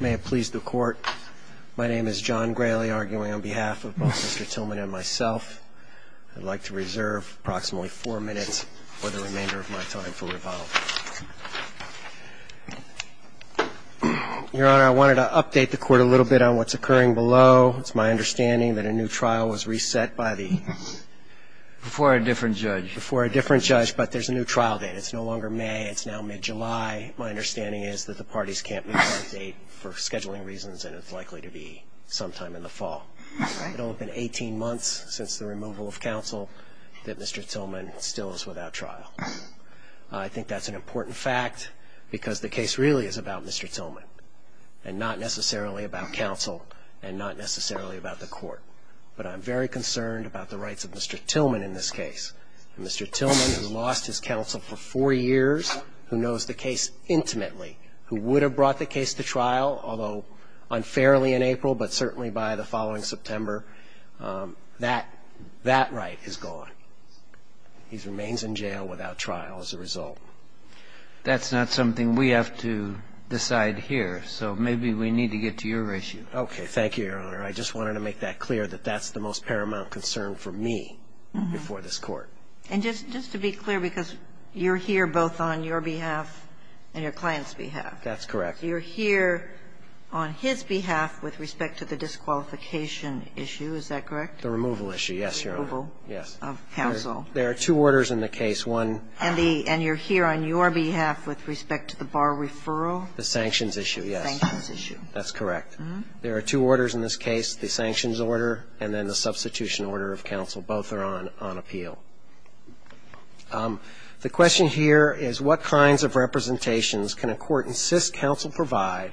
May it please the court, my name is John Grayley, arguing on behalf of both Mr. Tillman and myself. I'd like to reserve approximately four minutes for the remainder of my time for rebuttal. Your Honor, I wanted to update the court a little bit on what's occurring below. It's my understanding that a new trial was reset by the Before a different judge. Before a different judge, but there's a new trial date. It's no longer May. It's now mid-July. My understanding is that the parties can't move that date for scheduling reasons and it's likely to be sometime in the fall. All right. It'll have been 18 months since the removal of counsel that Mr. Tillman still is without trial. I think that's an important fact because the case really is about Mr. Tillman and not necessarily about counsel and not necessarily about the court. But I'm very concerned about the rights of Mr. Tillman in this case. Mr. Tillman has lost his counsel for four years, who knows the case intimately, who would have brought the case to trial, although unfairly in April, but certainly by the following September. That right is gone. He remains in jail without trial as a result. That's not something we have to decide here, so maybe we need to get to your issue. Okay. Thank you, Your Honor. I just wanted to make that clear that that's the most paramount concern for me before this Court. And just to be clear, because you're here both on your behalf and your client's behalf. That's correct. You're here on his behalf with respect to the disqualification issue. Is that correct? The removal issue, yes, Your Honor. The removal of counsel. There are two orders in the case. And you're here on your behalf with respect to the bar referral? The sanctions issue, yes. The sanctions issue. That's correct. There are two orders in this case, the sanctions order and then the substitution order of counsel. Both are on appeal. The question here is what kinds of representations can a court insist counsel provide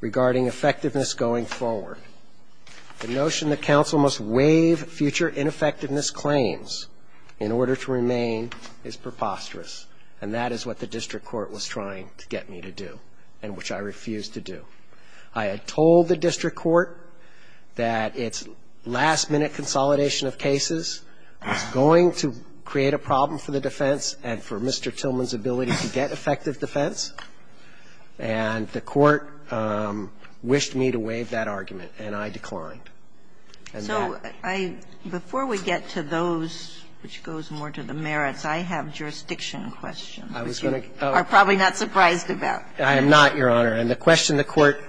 regarding effectiveness going forward? The notion that counsel must waive future ineffectiveness claims in order to remain is preposterous. And that is what the district court was trying to get me to do and which I refused to do. I had told the district court that its last-minute consolidation of cases was going to create a problem for the defense and for Mr. Tillman's ability to get effective defense. And the court wished me to waive that argument, and I declined. And that's it. So I – before we get to those, which goes more to the merits, I have a jurisdiction question, which you are probably not surprised about. I am not, Your Honor. And the question the court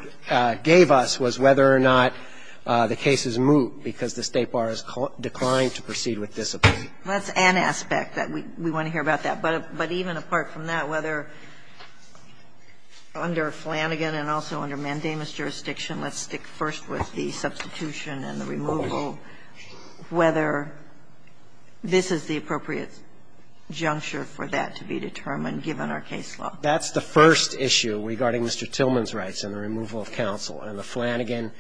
gave us was whether or not the cases moved because the State bar declined to proceed with discipline. That's an aspect that we want to hear about that. But even apart from that, whether under Flanagan and also under Mandamus jurisdiction, let's stick first with the substitution and the removal, whether this is the appropriate juncture for that to be determined given our case law. That's the first issue regarding Mr. Tillman's rights and the removal of counsel. And the Flanagan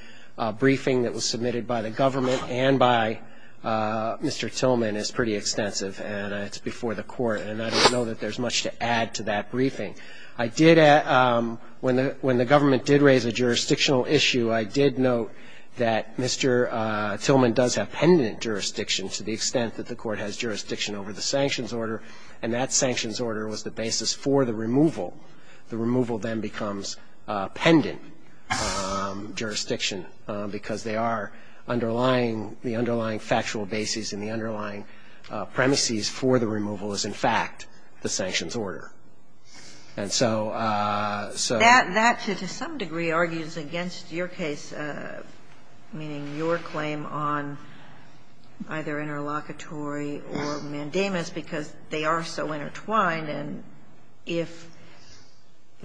briefing that was submitted by the government and by Mr. Tillman is pretty extensive, and it's before the court. And I don't know that there's much to add to that briefing. I did – when the government did raise a jurisdictional issue, I did note that Mr. Tillman does have pendant jurisdiction to the extent that the court has jurisdiction over the sanctions order. And that sanctions order was the basis for the removal. The removal then becomes pendant jurisdiction because they are underlying – the underlying factual basis and the underlying premises for the removal is, in fact, the sanctions order. And so – so – That to some degree argues against your case, meaning your claim on either interlocutory or mandamus because they are so intertwined. And if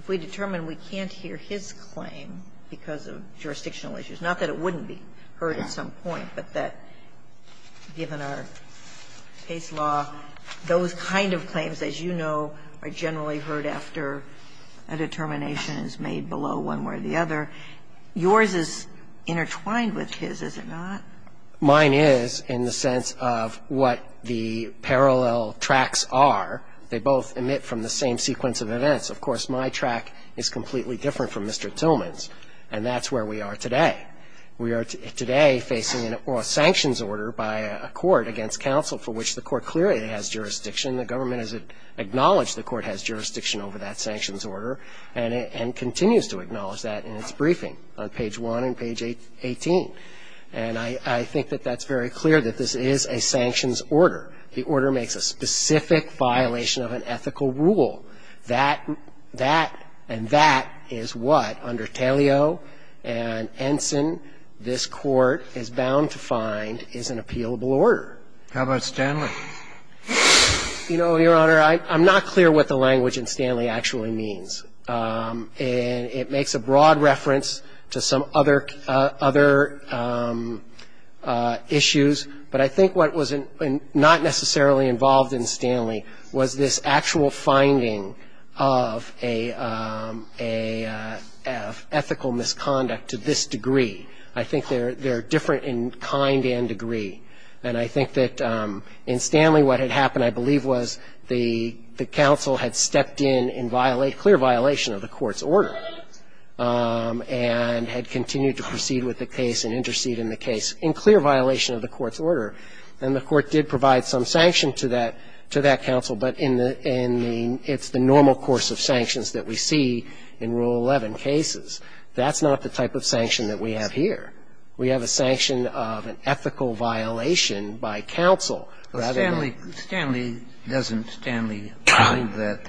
we determine we can't hear his claim because of jurisdictional issues, not that it wouldn't be heard at some point, but that given our case law, those kind of claims, as you know, are generally heard after a determination is made below one way or the other, yours is intertwined with his, is it not? Mine is in the sense of what the parallel tracks are. They both emit from the same sequence of events. Of course, my track is completely different from Mr. Tillman's, and that's where we are today. We are today facing a sanctions order by a court against counsel for which the court clearly has jurisdiction. The government has acknowledged the court has jurisdiction over that sanctions order and continues to acknowledge that in its briefing on page 1 and page 18. And I think that that's very clear, that this is a sanctions order. The order makes a specific violation of an ethical rule. That – that and that is what, under Tellio and Ensign, this court is bound to find is an appealable order. How about Stanley? You know, Your Honor, I'm not clear what the language in Stanley actually means. It makes a broad reference to some other issues, but I think what was not necessarily involved in Stanley was this actual finding of an ethical misconduct to this degree. I think they're different in kind and degree. And I think that in Stanley what had happened, I believe, was the counsel had stepped in in clear violation of the court's order and had continued to proceed with the case and intercede in the case in clear violation of the court's order, and the court did provide some sanction to that counsel. But in the – it's the normal course of sanctions that we see in Rule 11 cases. That's not the type of sanction that we have here. We have a sanction of an ethical violation by counsel rather than an ethical violation by counsel. We have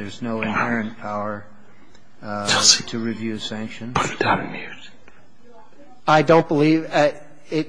a sanction of an ethical violation by counsel rather than an ethical violation by counsel. And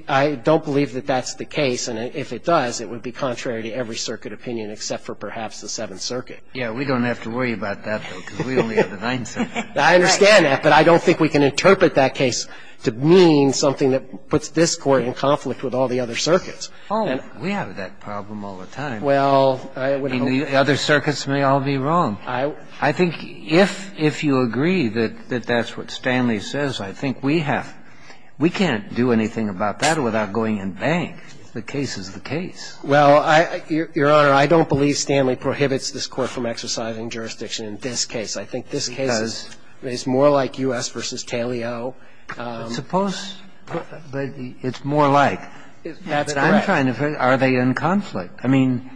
I don't believe that that's the case. And if it does, it would be contrary to every circuit opinion except for perhaps the Seventh Circuit. Yeah, we don't have to worry about that, though, because we only have the Ninth Circuit. I understand that, but I don't think we can interpret that case to mean something that puts this Court in conflict with all the other circuits. Oh, we have that problem all the time. Well, I would hope so. I mean, the other circuits may all be wrong. I think if you agree that that's what Stanley says, I think we have – we can't do anything about that without going in bank. The case is the case. Well, Your Honor, I don't believe Stanley prohibits this Court from exercising jurisdiction in this case. I think this case is more like U.S. v. Taliau. Suppose – but it's more like. That's correct. But I'm trying to figure out, are they in conflict? I mean,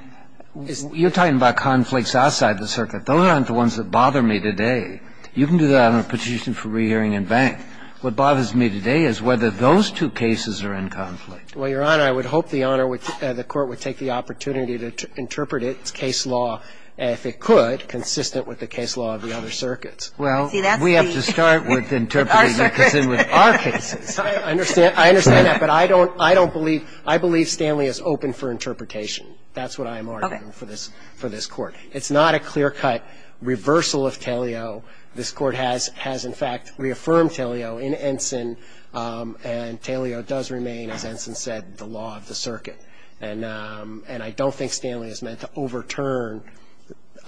you're talking about conflicts outside the circuit. Those aren't the ones that bother me today. You can do that on a petition for rehearing in bank. What bothers me today is whether those two cases are in conflict. Well, Your Honor, I would hope the Honor would – the Court would take the opportunity to interpret its case law, if it could, consistent with the case law of the other circuits. Well, we have to start with interpreting it as in with our cases. I understand – I understand that, but I don't – I don't believe – I believe Stanley is open for interpretation. That's what I am arguing for this – for this Court. It's not a clear-cut reversal of Taliau. This Court has – has, in fact, reaffirmed Taliau in Ensign. And Taliau does remain, as Ensign said, the law of the circuit. And I don't think Stanley is meant to overturn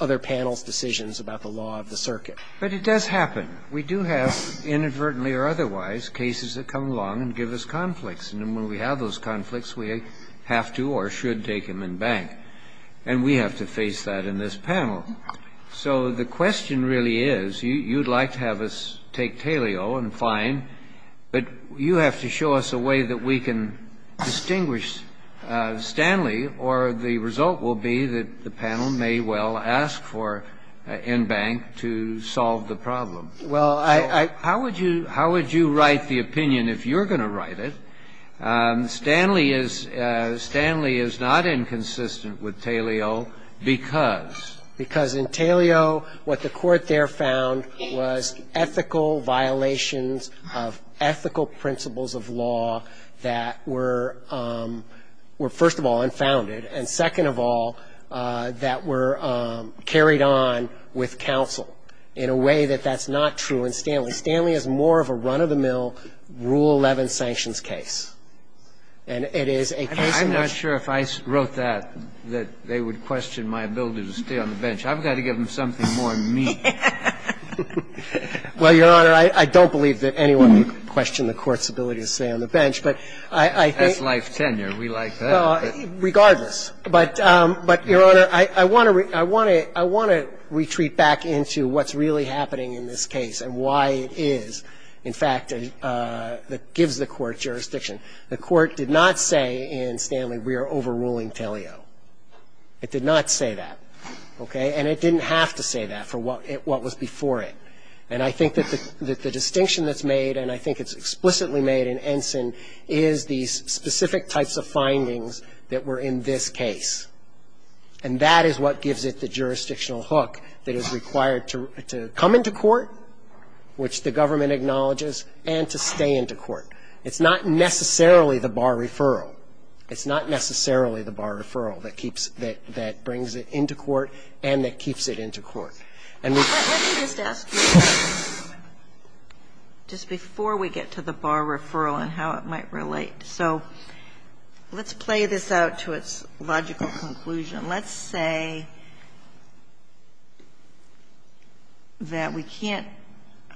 other panels' decisions about the law of the circuit. But it does happen. We do have, inadvertently or otherwise, cases that come along and give us conflicts. And when we have those conflicts, we have to or should take them in bank. And we have to face that in this panel. So the question really is, you'd like to have us take Taliau, and fine, but you have to show us a way that we can distinguish Stanley, or the result will be that the panel may well ask for in bank to solve the problem. Well, I – How would you – how would you write the opinion if you're going to write it? Stanley is – Stanley is not inconsistent with Taliau because? Because in Taliau, what the Court there found was ethical violations of ethical principles of law that were – were, first of all, unfounded. And second of all, that were carried on with counsel in a way that that's not true in Stanley. Stanley is more of a run-of-the-mill, Rule 11 sanctions case. And it is a case in which – I'm not sure if I wrote that, that they would question my ability to stay on the bench. I've got to give them something more than me. Well, Your Honor, I don't believe that anyone would question the Court's ability to stay on the bench. But I think – That's life tenure. We like that. Regardless. But, Your Honor, I want to – I want to retreat back into what's really happening in this case and why it is, in fact, that gives the Court jurisdiction. The Court did not say in Stanley, we are overruling Taliau. It did not say that. Okay? And it didn't have to say that for what was before it. And I think that the distinction that's made, and I think it's explicitly made in Ensign, is these specific types of findings that were in this case. And that is what gives it the jurisdictional hook that is required to come into court, which the government acknowledges, and to stay into court. It's not necessarily the bar referral. It's not necessarily the bar referral that keeps – that brings it into court and that keeps it into court. Let me just ask you, just before we get to the bar referral and how it might relate. So let's play this out to its logical conclusion. Let's say that we can't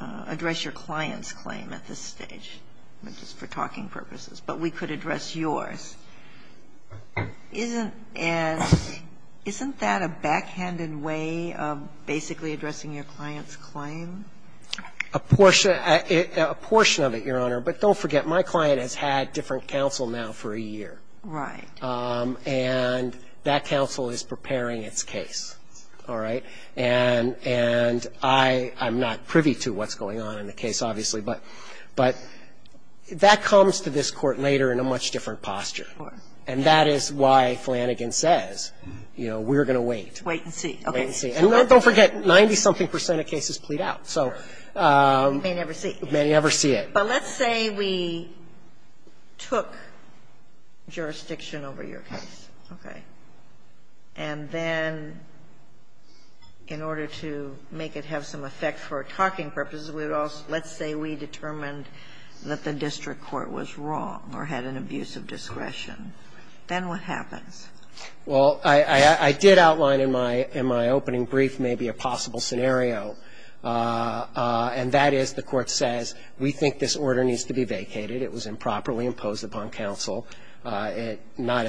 address your client's claim at this stage, just for talking purposes, but we could address yours. Isn't that a backhanded way of basically addressing your client's claim? A portion of it, Your Honor. But don't forget, my client has had different counsel now for a year. Right. And that counsel is preparing its case. All right? And I'm not privy to what's going on in the case, obviously, but that comes to this And that is why Flanagan says, you know, we're going to wait. Wait and see. Wait and see. And don't forget, 90-something percent of cases plead out. You may never see. You may never see it. But let's say we took jurisdiction over your case. Okay. And then in order to make it have some effect for talking purposes, we would also let's say we determined that the district court was wrong or had an abuse of discretion. Then what happens? Well, I did outline in my opening brief maybe a possible scenario. And that is, the Court says, we think this order needs to be vacated. It was improperly imposed upon counsel. Not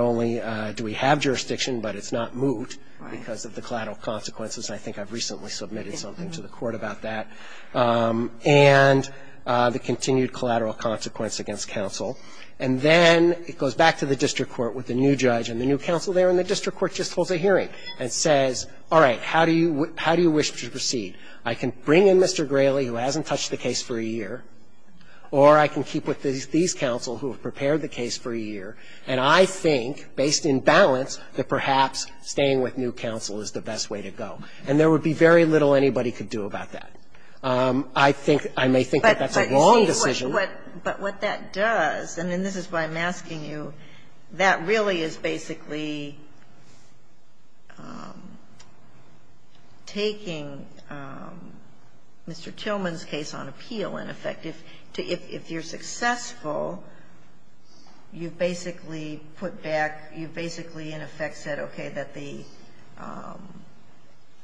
only do we have jurisdiction, but it's not moot because of the collateral consequences. I think I've recently submitted something to the Court about that. And the continued collateral consequence against counsel. And then it goes back to the district court with the new judge and the new counsel there, and the district court just holds a hearing and says, all right, how do you wish to proceed? I can bring in Mr. Grayley, who hasn't touched the case for a year, or I can keep with these counsel who have prepared the case for a year. And I think, based in balance, that perhaps staying with new counsel is the best way to go. And there would be very little anybody could do about that. I think that that's a wrong decision. But what that does, and this is why I'm asking you, that really is basically taking Mr. Tillman's case on appeal, in effect. If you're successful, you've basically put back, you've basically, in effect, said, okay, that the,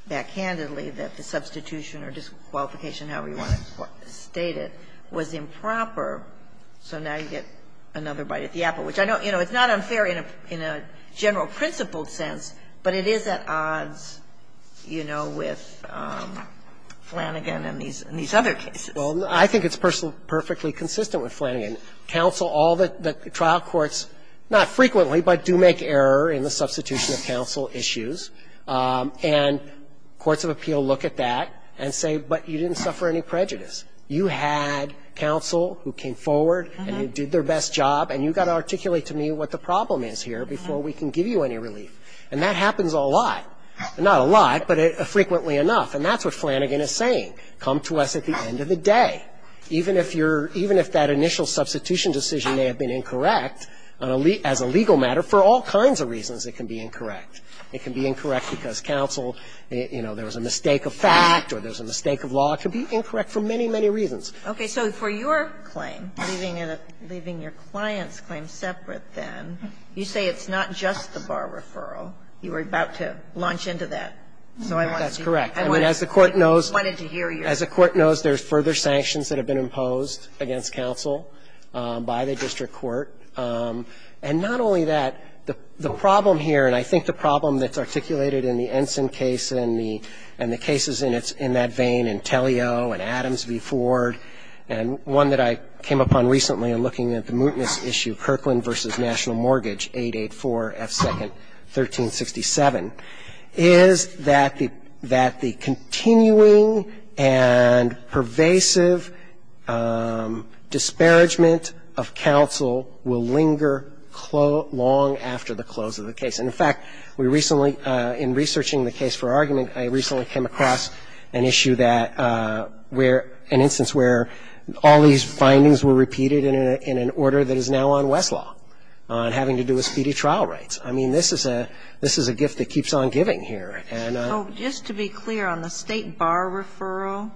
backhandedly, that the substitution or disqualification, however you want to state it, was improper. So now you get another bite at the apple, which I know, you know, it's not unfair in a general principled sense, but it is at odds, you know, with Flanagan and these other cases. Well, I think it's perfectly consistent with Flanagan. Counsel, all the trial courts, not frequently, but do make error in the substitution of counsel issues. And courts of appeal look at that and say, but you didn't suffer any prejudice. You had counsel who came forward and who did their best job, and you've got to articulate to me what the problem is here before we can give you any relief. And that happens a lot. Not a lot, but frequently enough. And that's what Flanagan is saying. Come to us at the end of the day. Even if you're, even if that initial substitution decision may have been incorrect as a legal matter, for all kinds of reasons it can be incorrect. It can be incorrect because counsel, you know, there was a mistake of fact or there was a mistake of law. It could be incorrect for many, many reasons. Okay. So for your claim, leaving your client's claim separate then, you say it's not just the bar referral. You were about to launch into that. So I want to see. Correct. I mean, as the Court knows. I wanted to hear you. As the Court knows, there's further sanctions that have been imposed against counsel by the district court. And not only that, the problem here, and I think the problem that's articulated in the Ensign case and the cases in that vein in Tellio and Adams v. Ford and one that I came upon recently in looking at the mootness issue, Kirkland v. National that the continuing and pervasive disparagement of counsel will linger long after the close of the case. And, in fact, we recently, in researching the case for argument, I recently came across an issue that where, an instance where all these findings were repeated in an order that is now on Westlaw on having to do with speedy trial rights. I mean, this is a gift that keeps on giving here. So just to be clear, on the State Bar referral,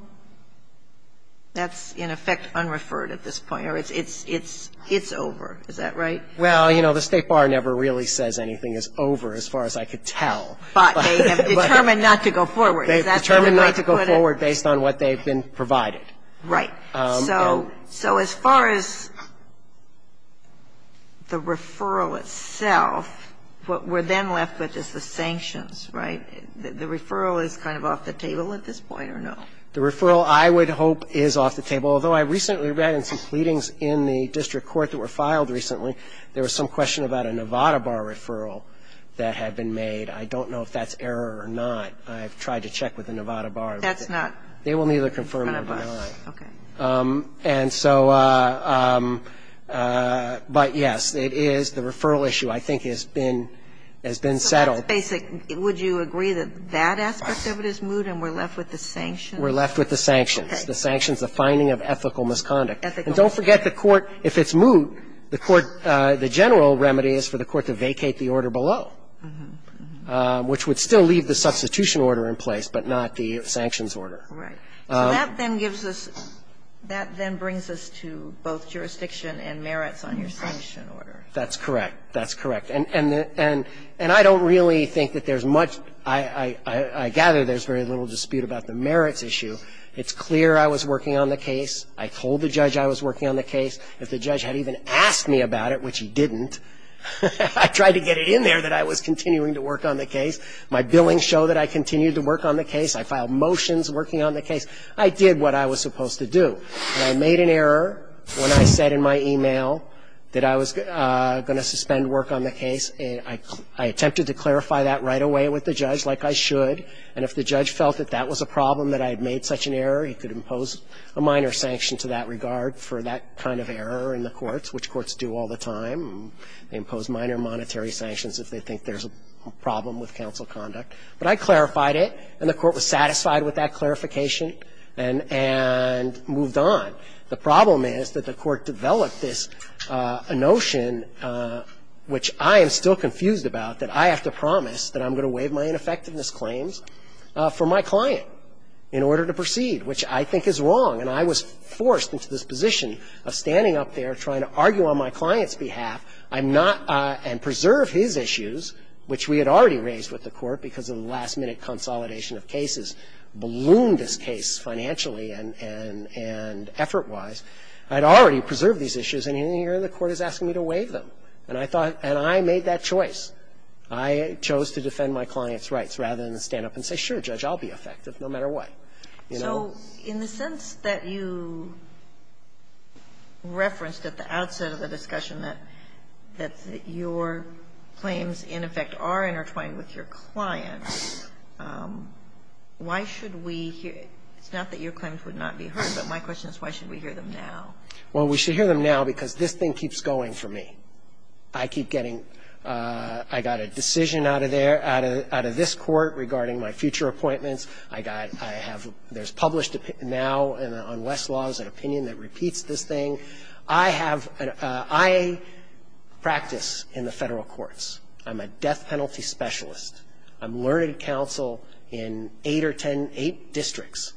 that's, in effect, unreferred at this point, or it's over. Is that right? Well, you know, the State Bar never really says anything is over as far as I could tell. But they have determined not to go forward. They've determined not to go forward based on what they've been provided. Right. So as far as the referral itself, what we're then left with is the sanctions, right? The referral is kind of off the table at this point, or no? The referral, I would hope, is off the table. Although I recently read in some pleadings in the district court that were filed recently, there was some question about a Nevada Bar referral that had been made. I don't know if that's error or not. I've tried to check with the Nevada Bar. That's not? They will neither confirm nor deny. Okay. And so, but, yes, it is. The referral issue, I think, has been settled. Okay. So that's basic. Would you agree that that aspect of it is moot and we're left with the sanctions? We're left with the sanctions. Okay. The sanctions, the finding of ethical misconduct. Ethical. And don't forget the court, if it's moot, the court, the general remedy is for the court to vacate the order below, which would still leave the substitution order in place, but not the sanctions order. Right. So that then gives us, that then brings us to both jurisdiction and merits on your sanction order. That's correct. That's correct. And I don't really think that there's much, I gather there's very little dispute about the merits issue. It's clear I was working on the case. I told the judge I was working on the case. If the judge had even asked me about it, which he didn't, I tried to get it in there that I was continuing to work on the case. My billings show that I continued to work on the case. I filed motions working on the case. I did what I was supposed to do. And I made an error when I said in my email that I was going to suspend work on the case. I attempted to clarify that right away with the judge like I should, and if the judge felt that that was a problem, that I had made such an error, he could impose a minor sanction to that regard for that kind of error in the courts, which courts do all the time. They impose minor monetary sanctions if they think there's a problem with counsel conduct. But I clarified it, and the court was satisfied with that clarification and moved on. The problem is that the court developed this notion, which I am still confused about, that I have to promise that I'm going to waive my ineffectiveness claims for my client in order to proceed, which I think is wrong. And I was forced into this position of standing up there trying to argue on my client's behalf. I'm not, and preserve his issues, which we had already raised with the court because of the last-minute consolidation of cases, ballooned this case financially and effort-wise. I'd already preserved these issues, and here the court is asking me to waive them. And I thought, and I made that choice. I chose to defend my client's rights rather than stand up and say, sure, Judge, I'll be effective no matter what, you know. Kagan. So in the sense that you referenced at the outset of the discussion that your claims in effect are intertwined with your client's, why should we hear, it's not that your claims would not be heard, but my question is why should we hear them now? Well, we should hear them now because this thing keeps going for me. I keep getting, I got a decision out of there, out of this court regarding my future appointments. I got, I have, there's published now on Westlaw's an opinion that repeats this thing. I have, I practice in the federal courts. I'm a death penalty specialist. I'm learned counsel in eight or ten, eight districts.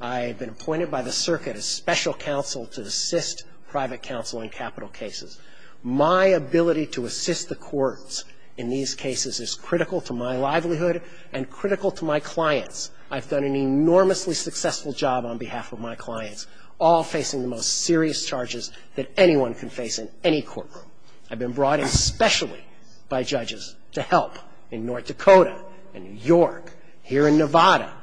I have been appointed by the circuit as special counsel to assist private counsel in capital cases. My ability to assist the courts in these cases is critical to my livelihood and critical to my clients. I've done an enormously successful job on behalf of my clients, all facing the most serious charges that anyone can face in any courtroom. I've been brought in specially by judges to help in North Dakota and New York, here in Nevada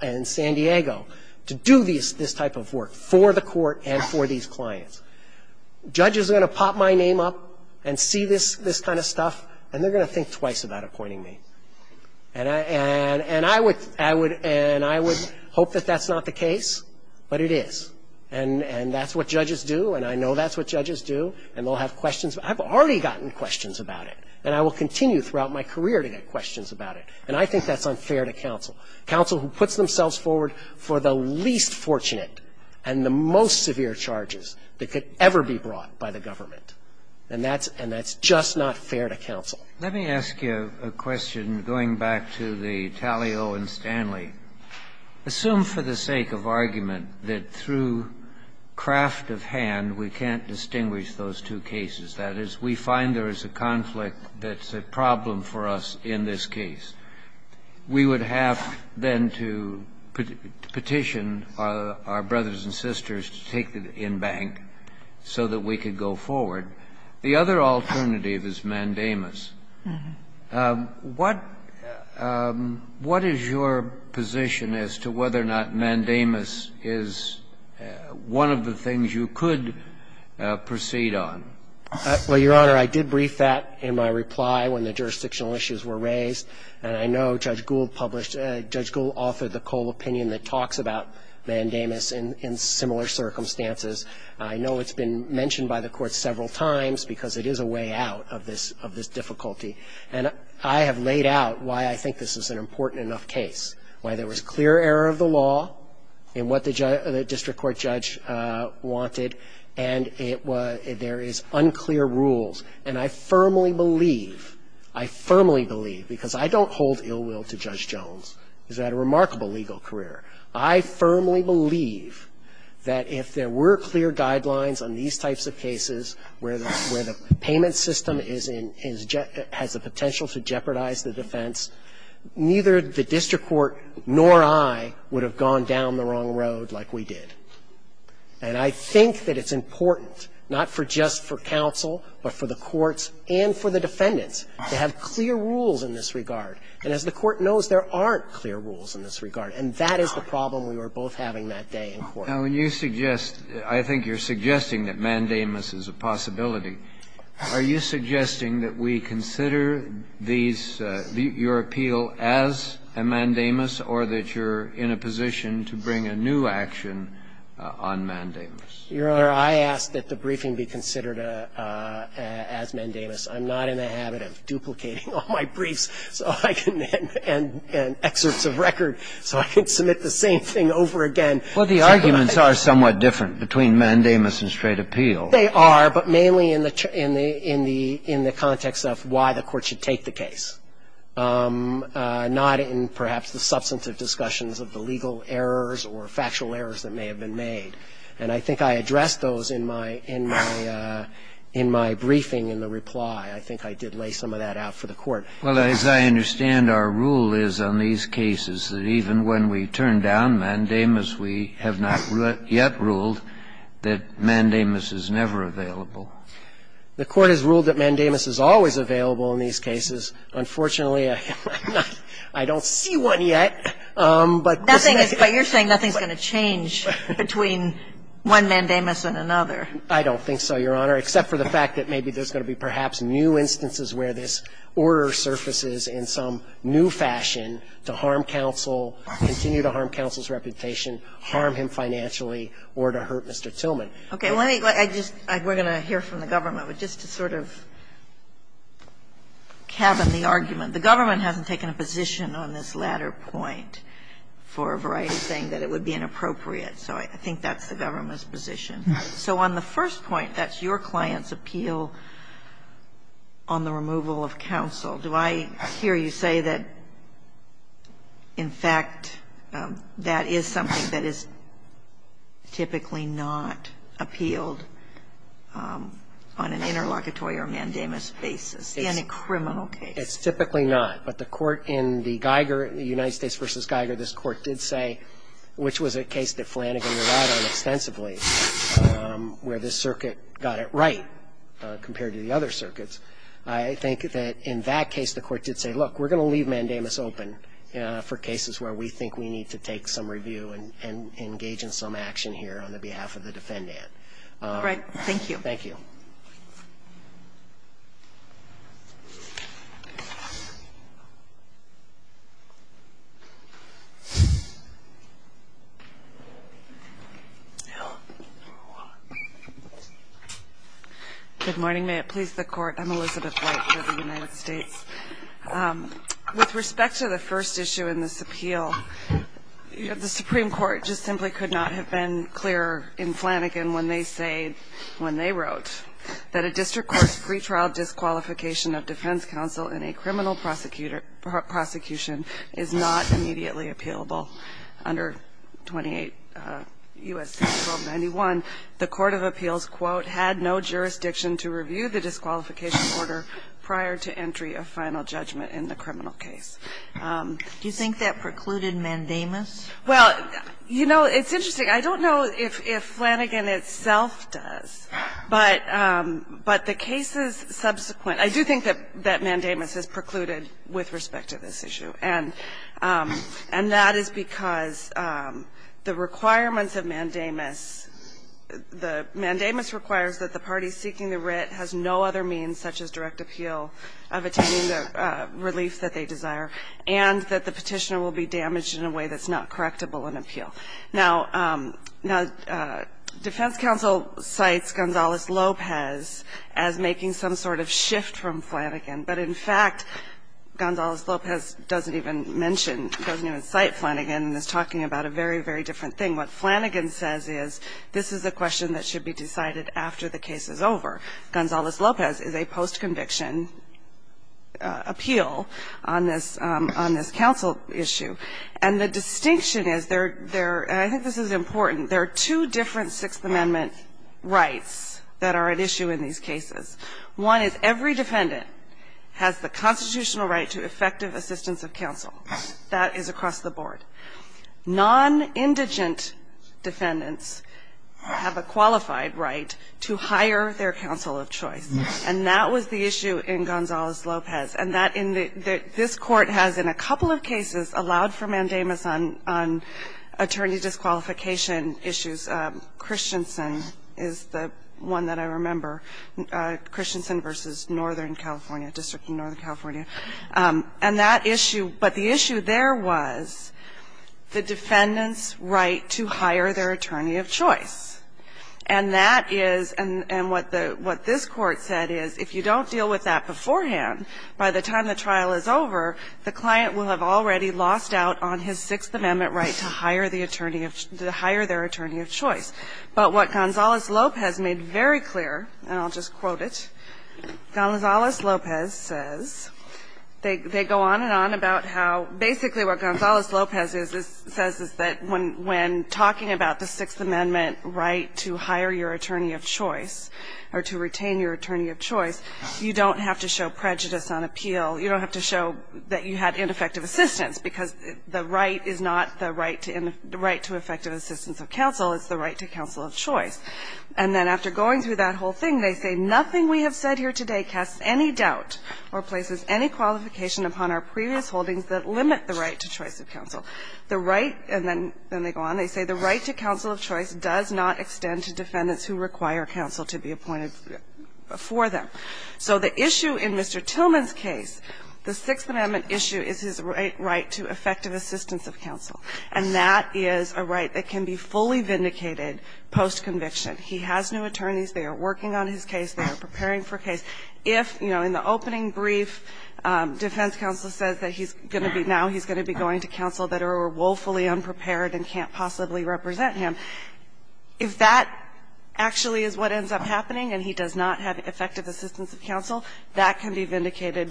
and San Diego, to do this type of work for the court and for these clients. Judges are going to pop my name up and see this kind of stuff, and they're going to think twice about appointing me. And I would hope that that's not the case, but it is. And that's what judges do, and I know that's what judges do, and they'll have questions. I've already gotten questions about it, and I will continue throughout my career to get questions about it. And I think that's unfair to counsel, counsel who puts themselves forward for the least fortunate and the most severe charges that could ever be brought by the government. And that's just not fair to counsel. Let me ask you a question, going back to the Tallyo and Stanley. Assume for the sake of argument that through craft of hand we can't distinguish those two cases. That is, we find there is a conflict that's a problem for us in this case. We would have then to petition our brothers and sisters to take the in bank so that we could go forward. The other alternative is mandamus. What is your position as to whether or not mandamus is one of the things you could proceed on? Well, Your Honor, I did brief that in my reply when the jurisdictional issues were raised. And I know Judge Gould published – Judge Gould offered the Cole opinion that talks about mandamus in similar circumstances. I know it's been mentioned by the Court several times because it is a way out of this difficulty. And I have laid out why I think this is an important enough case, why there was clear error of the law in what the district court judge wanted, and there is unclear rules. And I firmly believe, I firmly believe, because I don't hold ill will to Judge Jones who's had a remarkable legal career. I firmly believe that if there were clear guidelines on these types of cases where the payment system is in – has the potential to jeopardize the defense, neither the district court nor I would have gone down the wrong road like we did. And I think that it's important, not just for counsel, but for the courts and for the defendants, to have clear rules in this regard. And as the Court knows, there aren't clear rules in this regard. And that is the problem we were both having that day in court. Now, when you suggest – I think you're suggesting that mandamus is a possibility. Are you suggesting that we consider these – your appeal as a mandamus or that you're in a position to bring a new action on mandamus? Your Honor, I ask that the briefing be considered as mandamus. I'm not in the habit of duplicating all my briefs so I can – and excerpts of record so I can submit the same thing over again. Well, the arguments are somewhat different between mandamus and straight appeal. They are, but mainly in the – in the context of why the Court should take the case, not in perhaps the substantive discussions of the legal errors or factual errors that may have been made. And I think I addressed those in my – in my briefing in the reply. I think I did lay some of that out for the Court. Well, as I understand, our rule is on these cases that even when we turn down mandamus, we have not yet ruled that mandamus is never available. The Court has ruled that mandamus is always available in these cases. Unfortunately, I'm not – I don't see one yet. But this is – But you're saying nothing's going to change between one mandamus and another. I don't think so, Your Honor, except for the fact that maybe there's going to be perhaps new instances where this order surfaces in some new fashion to harm counsel, continue to harm counsel's reputation, harm him financially, or to hurt Mr. Tillman. Okay. Well, let me – I just – we're going to hear from the government. But just to sort of cabin the argument, the government hasn't taken a position on this latter point for a variety of saying that it would be inappropriate. So I think that's the government's position. So on the first point, that's your client's appeal on the removal of counsel. Do I hear you say that, in fact, that is something that is typically not appealed on an interlocutory or mandamus basis in a criminal case? It's typically not. But the Court in the Geiger, United States v. Geiger, this Court did say, which was a case that Flanagan relied on extensively, where this circuit got it right compared to the other circuits. I think that in that case, the Court did say, look, we're going to leave mandamus open for cases where we think we need to take some review and engage in some action here on the behalf of the defendant. All right. Thank you. Thank you. Good morning. May it please the Court. I'm Elizabeth White with the United States. With respect to the first issue in this appeal, the Supreme Court just simply could not have been clearer in Flanagan when they wrote that a district court's pretrial disqualification of defense counsel in a criminal prosecution is not immediately appealable under 28 U.S.C. 1291. The court of appeals, quote, had no jurisdiction to review the disqualification order prior to entry of final judgment in the criminal case. Do you think that precluded mandamus? Well, you know, it's interesting. I don't know if Flanagan itself does, but the cases subsequent to that, I do think And that is because the requirements of mandamus, the mandamus requires that the party seeking the writ has no other means such as direct appeal of attaining the relief that they desire and that the Petitioner will be damaged in a way that's not correctable in appeal. Now, defense counsel cites Gonzales-Lopez as making some sort of shift from Flanagan, but in fact, Gonzales-Lopez doesn't even mention, doesn't even cite Flanagan and is talking about a very, very different thing. What Flanagan says is this is a question that should be decided after the case is over. Gonzales-Lopez is a post-conviction appeal on this counsel issue. And the distinction is there are, and I think this is important, there are two different Sixth Amendment rights that are at issue in these cases. One is every defendant has the constitutional right to effective assistance of counsel. That is across the board. Nonindigent defendants have a qualified right to hire their counsel of choice. And that was the issue in Gonzales-Lopez. And that in the this Court has in a couple of cases allowed for mandamus on attorney disqualification issues. The other one is Christensen is the one that I remember. Christensen v. Northern California, District of Northern California. And that issue, but the issue there was the defendant's right to hire their attorney of choice. And that is, and what the, what this Court said is if you don't deal with that beforehand, by the time the trial is over, the client will have already lost out on his Sixth Amendment right to hire his attorney of choice. But what Gonzales-Lopez made very clear, and I'll just quote it. Gonzales-Lopez says, they go on and on about how basically what Gonzales-Lopez says is that when talking about the Sixth Amendment right to hire your attorney of choice or to retain your attorney of choice, you don't have to show prejudice on appeal, you don't have to show that you had ineffective assistance, because the right is not the right to effective assistance of counsel. It's the right to counsel of choice. And then after going through that whole thing, they say, Nothing we have said here today casts any doubt or places any qualification upon our previous holdings that limit the right to choice of counsel. The right, and then they go on, they say the right to counsel of choice does not extend to defendants who require counsel to be appointed before them. So the issue in Mr. Tillman's case, the Sixth Amendment issue is his right to effective assistance of counsel, and that is a right that can be fully vindicated post-conviction. He has new attorneys. They are working on his case. They are preparing for a case. If, you know, in the opening brief, defense counsel says that he's going to be, now he's going to be going to counsel that are woefully unprepared and can't possibly represent him, if that actually is what ends up happening and he does not have effective assistance of counsel, that can be vindicated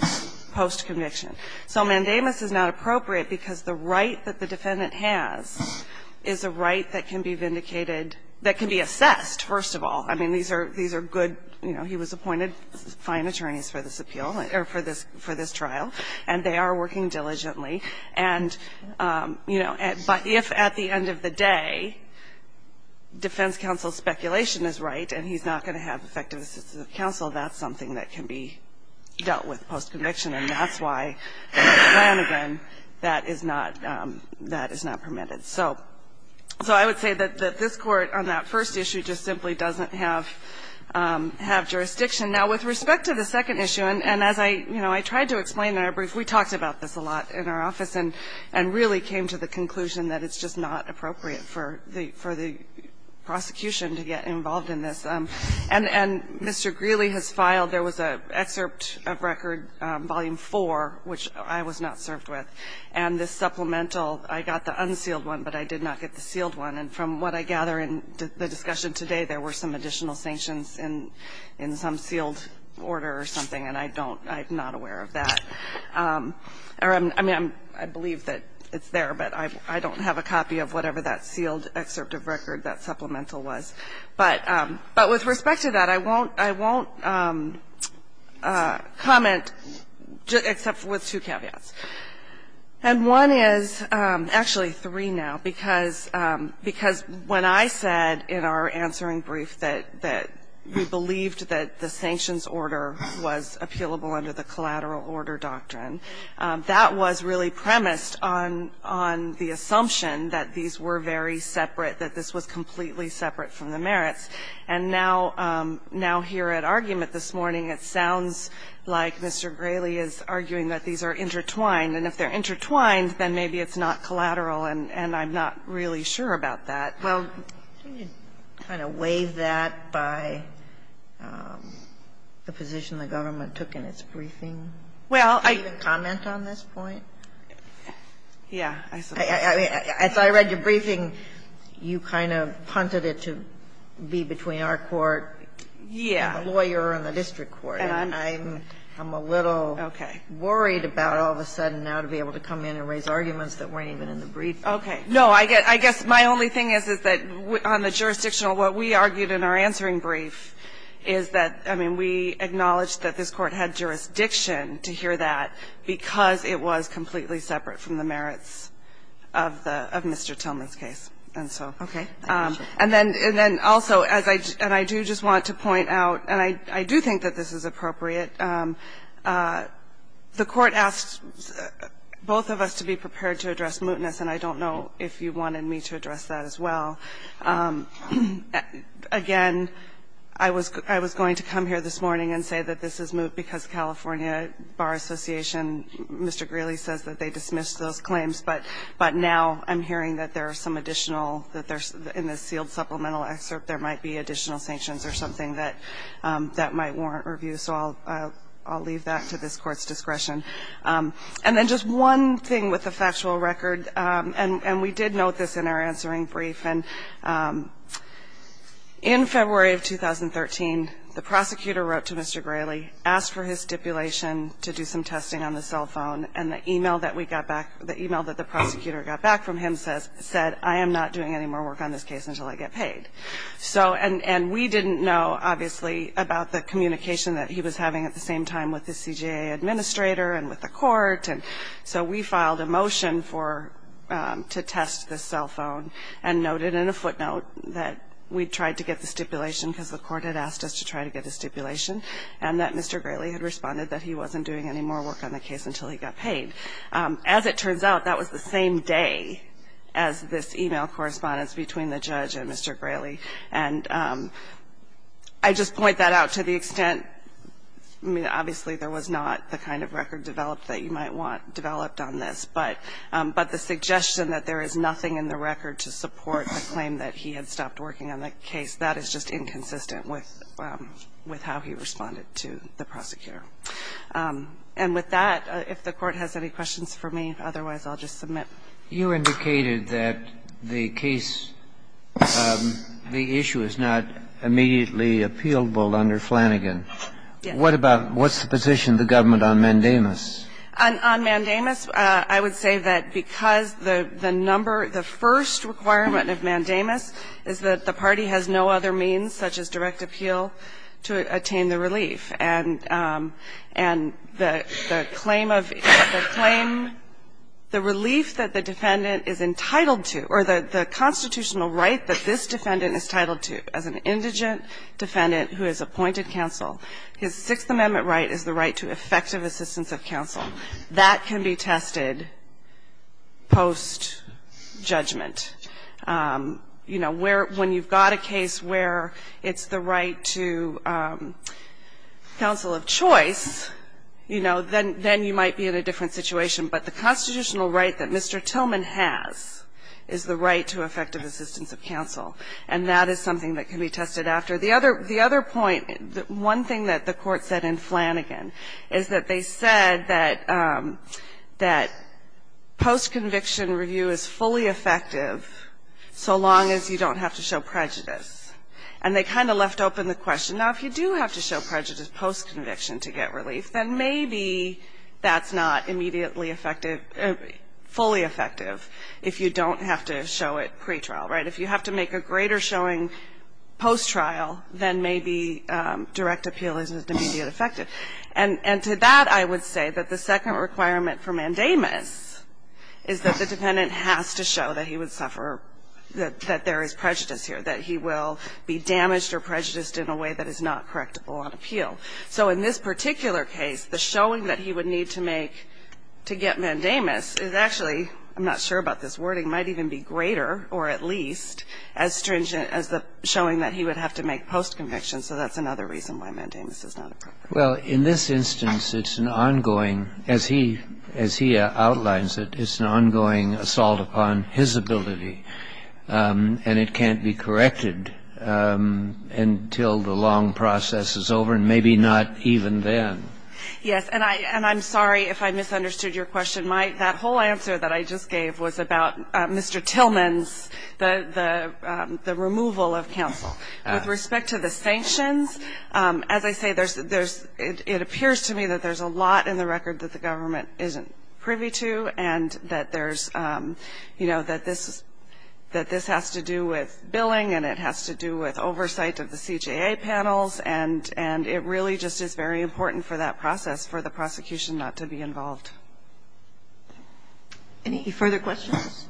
post-conviction. So mandamus is not appropriate because the right that the defendant has is a right that can be vindicated, that can be assessed, first of all. I mean, these are good, you know, he was appointed fine attorneys for this appeal or for this trial, and they are working diligently. And, you know, but if at the end of the day defense counsel's speculation is right and he's not going to have effective assistance of counsel, that's something that can be dealt with post-conviction, and that's why, again, that is not permitted. So I would say that this Court on that first issue just simply doesn't have jurisdiction. Now, with respect to the second issue, and as I, you know, I tried to explain it in our brief, we talked about this a lot in our office and really came to the conclusion that it's just not appropriate for the prosecution to get involved in this. And Mr. Greeley has filed, there was an excerpt of record, volume 4, which I was not served with, and this supplemental, I got the unsealed one, but I did not get the sealed one, and from what I gather in the discussion today, there were some additional order or something, and I don't, I'm not aware of that. I mean, I believe that it's there, but I don't have a copy of whatever that sealed excerpt of record, that supplemental was. But with respect to that, I won't comment except with two caveats. And one is, actually three now, because when I said in our answering brief that we appealable under the collateral order doctrine, that was really premised on the assumption that these were very separate, that this was completely separate from the merits. And now, here at argument this morning, it sounds like Mr. Greeley is arguing that these are intertwined, and if they're intertwined, then maybe it's not collateral, and I'm not really sure about that. Well, can you kind of waive that by the position the government took in its briefing? Well, I can comment on this point. Yeah. As I read your briefing, you kind of punted it to be between our court and the lawyer and the district court, and I'm a little worried about all of a sudden now to be able to come in and raise arguments that weren't even in the briefing. No, I guess my only thing is, is that on the jurisdictional, what we argued in our answering brief is that, I mean, we acknowledged that this Court had jurisdiction to hear that because it was completely separate from the merits of the Mr. Tillman's case, and so. Okay. And then also, and I do just want to point out, and I do think that this is appropriate, but the Court asked both of us to be prepared to address mootness, and I don't know if you wanted me to address that as well. Again, I was going to come here this morning and say that this is moot because California Bar Association, Mr. Greeley says that they dismissed those claims, but now I'm hearing that there are some additional, that in the sealed supplemental excerpt there might be additional sanctions or something that might warrant review, so I'll leave that to this Court's discretion. And then just one thing with the factual record, and we did note this in our answering brief, and in February of 2013, the prosecutor wrote to Mr. Greeley, asked for his stipulation to do some testing on the cell phone, and the email that we got back, the email that the prosecutor got back from him said, I am not doing any more work on this case until I get paid. So, and we didn't know, obviously, about the communication that he was having at the same time with the CJA administrator and with the Court, and so we filed a motion to test the cell phone and noted in a footnote that we tried to get the stipulation because the Court had asked us to try to get the stipulation, and that Mr. Greeley had responded that he wasn't doing any more work on the case until he got paid. As it turns out, that was the same day as this email correspondence between the judge and Mr. Greeley. And I just point that out to the extent, I mean, obviously, there was not the kind of record developed that you might want developed on this, but the suggestion that there is nothing in the record to support the claim that he had stopped working on the case, that is just inconsistent with how he responded to the prosecutor. And with that, if the Court has any questions for me, otherwise I'll just submit. You indicated that the case, the issue is not immediately appealable under Flanagan. Yes. What about, what's the position of the government on mandamus? On mandamus, I would say that because the number, the first requirement of mandamus is that the party has no other means, such as direct appeal, to attain the relief. And the claim of, the claim, the relief that the defendant is entitled to, or the constitutional right that this defendant is entitled to as an indigent defendant who has appointed counsel, his Sixth Amendment right is the right to effective assistance of counsel. That can be tested post-judgment. You know, where, when you've got a case where it's the right to counsel of choice, you know, then you might be in a different situation. But the constitutional right that Mr. Tillman has is the right to effective assistance of counsel. And that is something that can be tested after. The other point, one thing that the Court said in Flanagan is that they said that post-conviction review is fully effective so long as you don't have to show prejudice. And they kind of left open the question, now, if you do have to show prejudice post-conviction to get relief, then maybe that's not immediately effective, fully effective, if you don't have to show it pretrial, right? If you have to make a greater showing post-trial, then maybe direct appeal is immediate effective. And to that I would say that the second requirement for mandamus is that the defendant has to show that he would suffer, that there is prejudice here, that he will be damaged or prejudiced in a way that is not correctable on appeal. So in this particular case, the showing that he would need to make to get mandamus is actually, I'm not sure about this wording, might even be greater or at least as stringent as the showing that he would have to make post-conviction. So that's another reason why mandamus is not appropriate. Well, in this instance, it's an ongoing, as he outlines it, it's an ongoing assault upon his ability. And it can't be corrected until the long process is over, and maybe not even then. Yes. And I'm sorry if I misunderstood your question. That whole answer that I just gave was about Mr. Tillman's, the removal of counsel. With respect to the sanctions, as I say, there's, it appears to me that there's a lot in the record that the government isn't privy to, and that there's, you know, that this has to do with billing and it has to do with oversight of the CJA panels, and it really just is very important for that process for the prosecution not to be involved. Any further questions?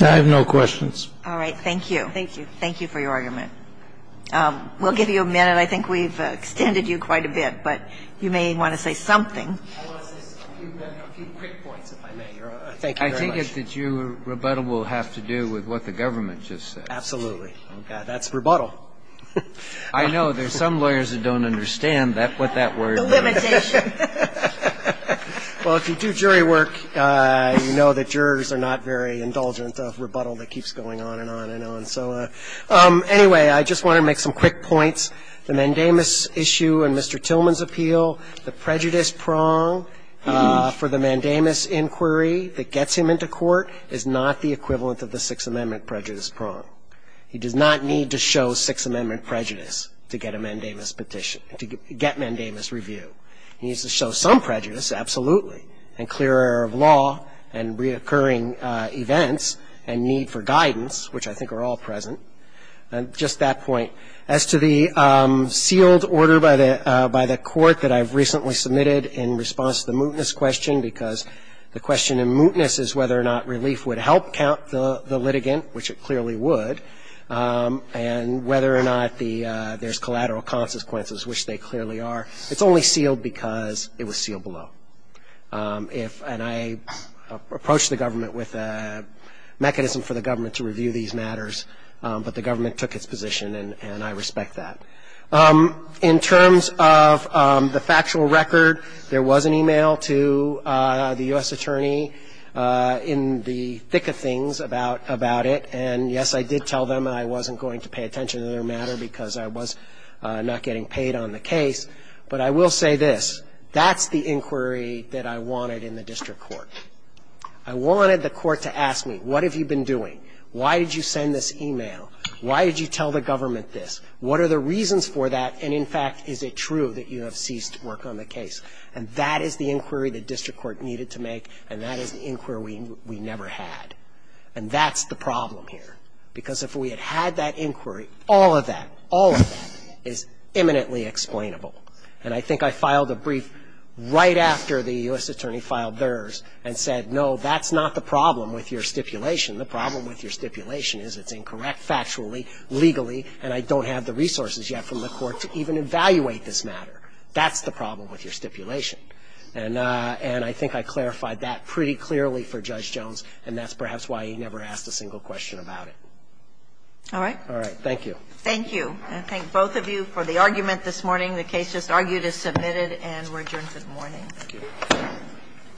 I have no questions. All right. Thank you. Thank you for your argument. We'll give you a minute. I think we've extended you quite a bit, but you may want to say something. I want to say a few quick points, if I may. Thank you very much. I think it's that your rebuttal will have to do with what the government just said. Absolutely. That's rebuttal. I know. There's some lawyers that don't understand what that word means. Limitation. Well, if you do jury work, you know that jurors are not very indulgent of rebuttal that keeps going on and on and on. So anyway, I just want to make some quick points. The mandamus issue and Mr. Tillman's appeal, the prejudice prong for the mandamus inquiry that gets him into court is not the equivalent of the Sixth Amendment prejudice prong. He does not need to show Sixth Amendment prejudice to get a mandamus petition, to get mandamus review. He needs to show some prejudice, absolutely, and clear air of law and reoccurring events and need for guidance, which I think are all present. And just that point, as to the sealed order by the court that I've recently submitted in response to the mootness question, because the question in mootness is whether or not relief would help count the litigant, which it clearly would, and whether or not there's collateral consequences, which they clearly are. It's only sealed because it was sealed below. And I approached the government with a mechanism for the government to review these matters, but the government took its position, and I respect that. In terms of the factual record, there was an e-mail to the U.S. attorney in the thick of things about it. And, yes, I did tell them I wasn't going to pay attention to their matter because I was not getting paid on the case. But I will say this, that's the inquiry that I wanted in the district court. I wanted the court to ask me, what have you been doing? Why did you send this e-mail? Why did you tell the government this? What are the reasons for that? And, in fact, is it true that you have ceased work on the case? And that is the inquiry the district court needed to make, and that is the inquiry we never had. And that's the problem here. Because if we had had that inquiry, all of that, all of that is imminently explainable. And I think I filed a brief right after the U.S. attorney filed theirs and said, no, that's not the problem with your stipulation. The problem with your stipulation is it's incorrect factually, legally, and I don't have the resources yet from the court to even evaluate this matter. That's the problem with your stipulation. And I think I clarified that pretty clearly for Judge Jones, and that's perhaps why he never asked a single question about it. All right. All right. Thank you. Thank you. I thank both of you for the argument this morning. The case just argued is submitted, and we're adjourned for the morning. Thank you.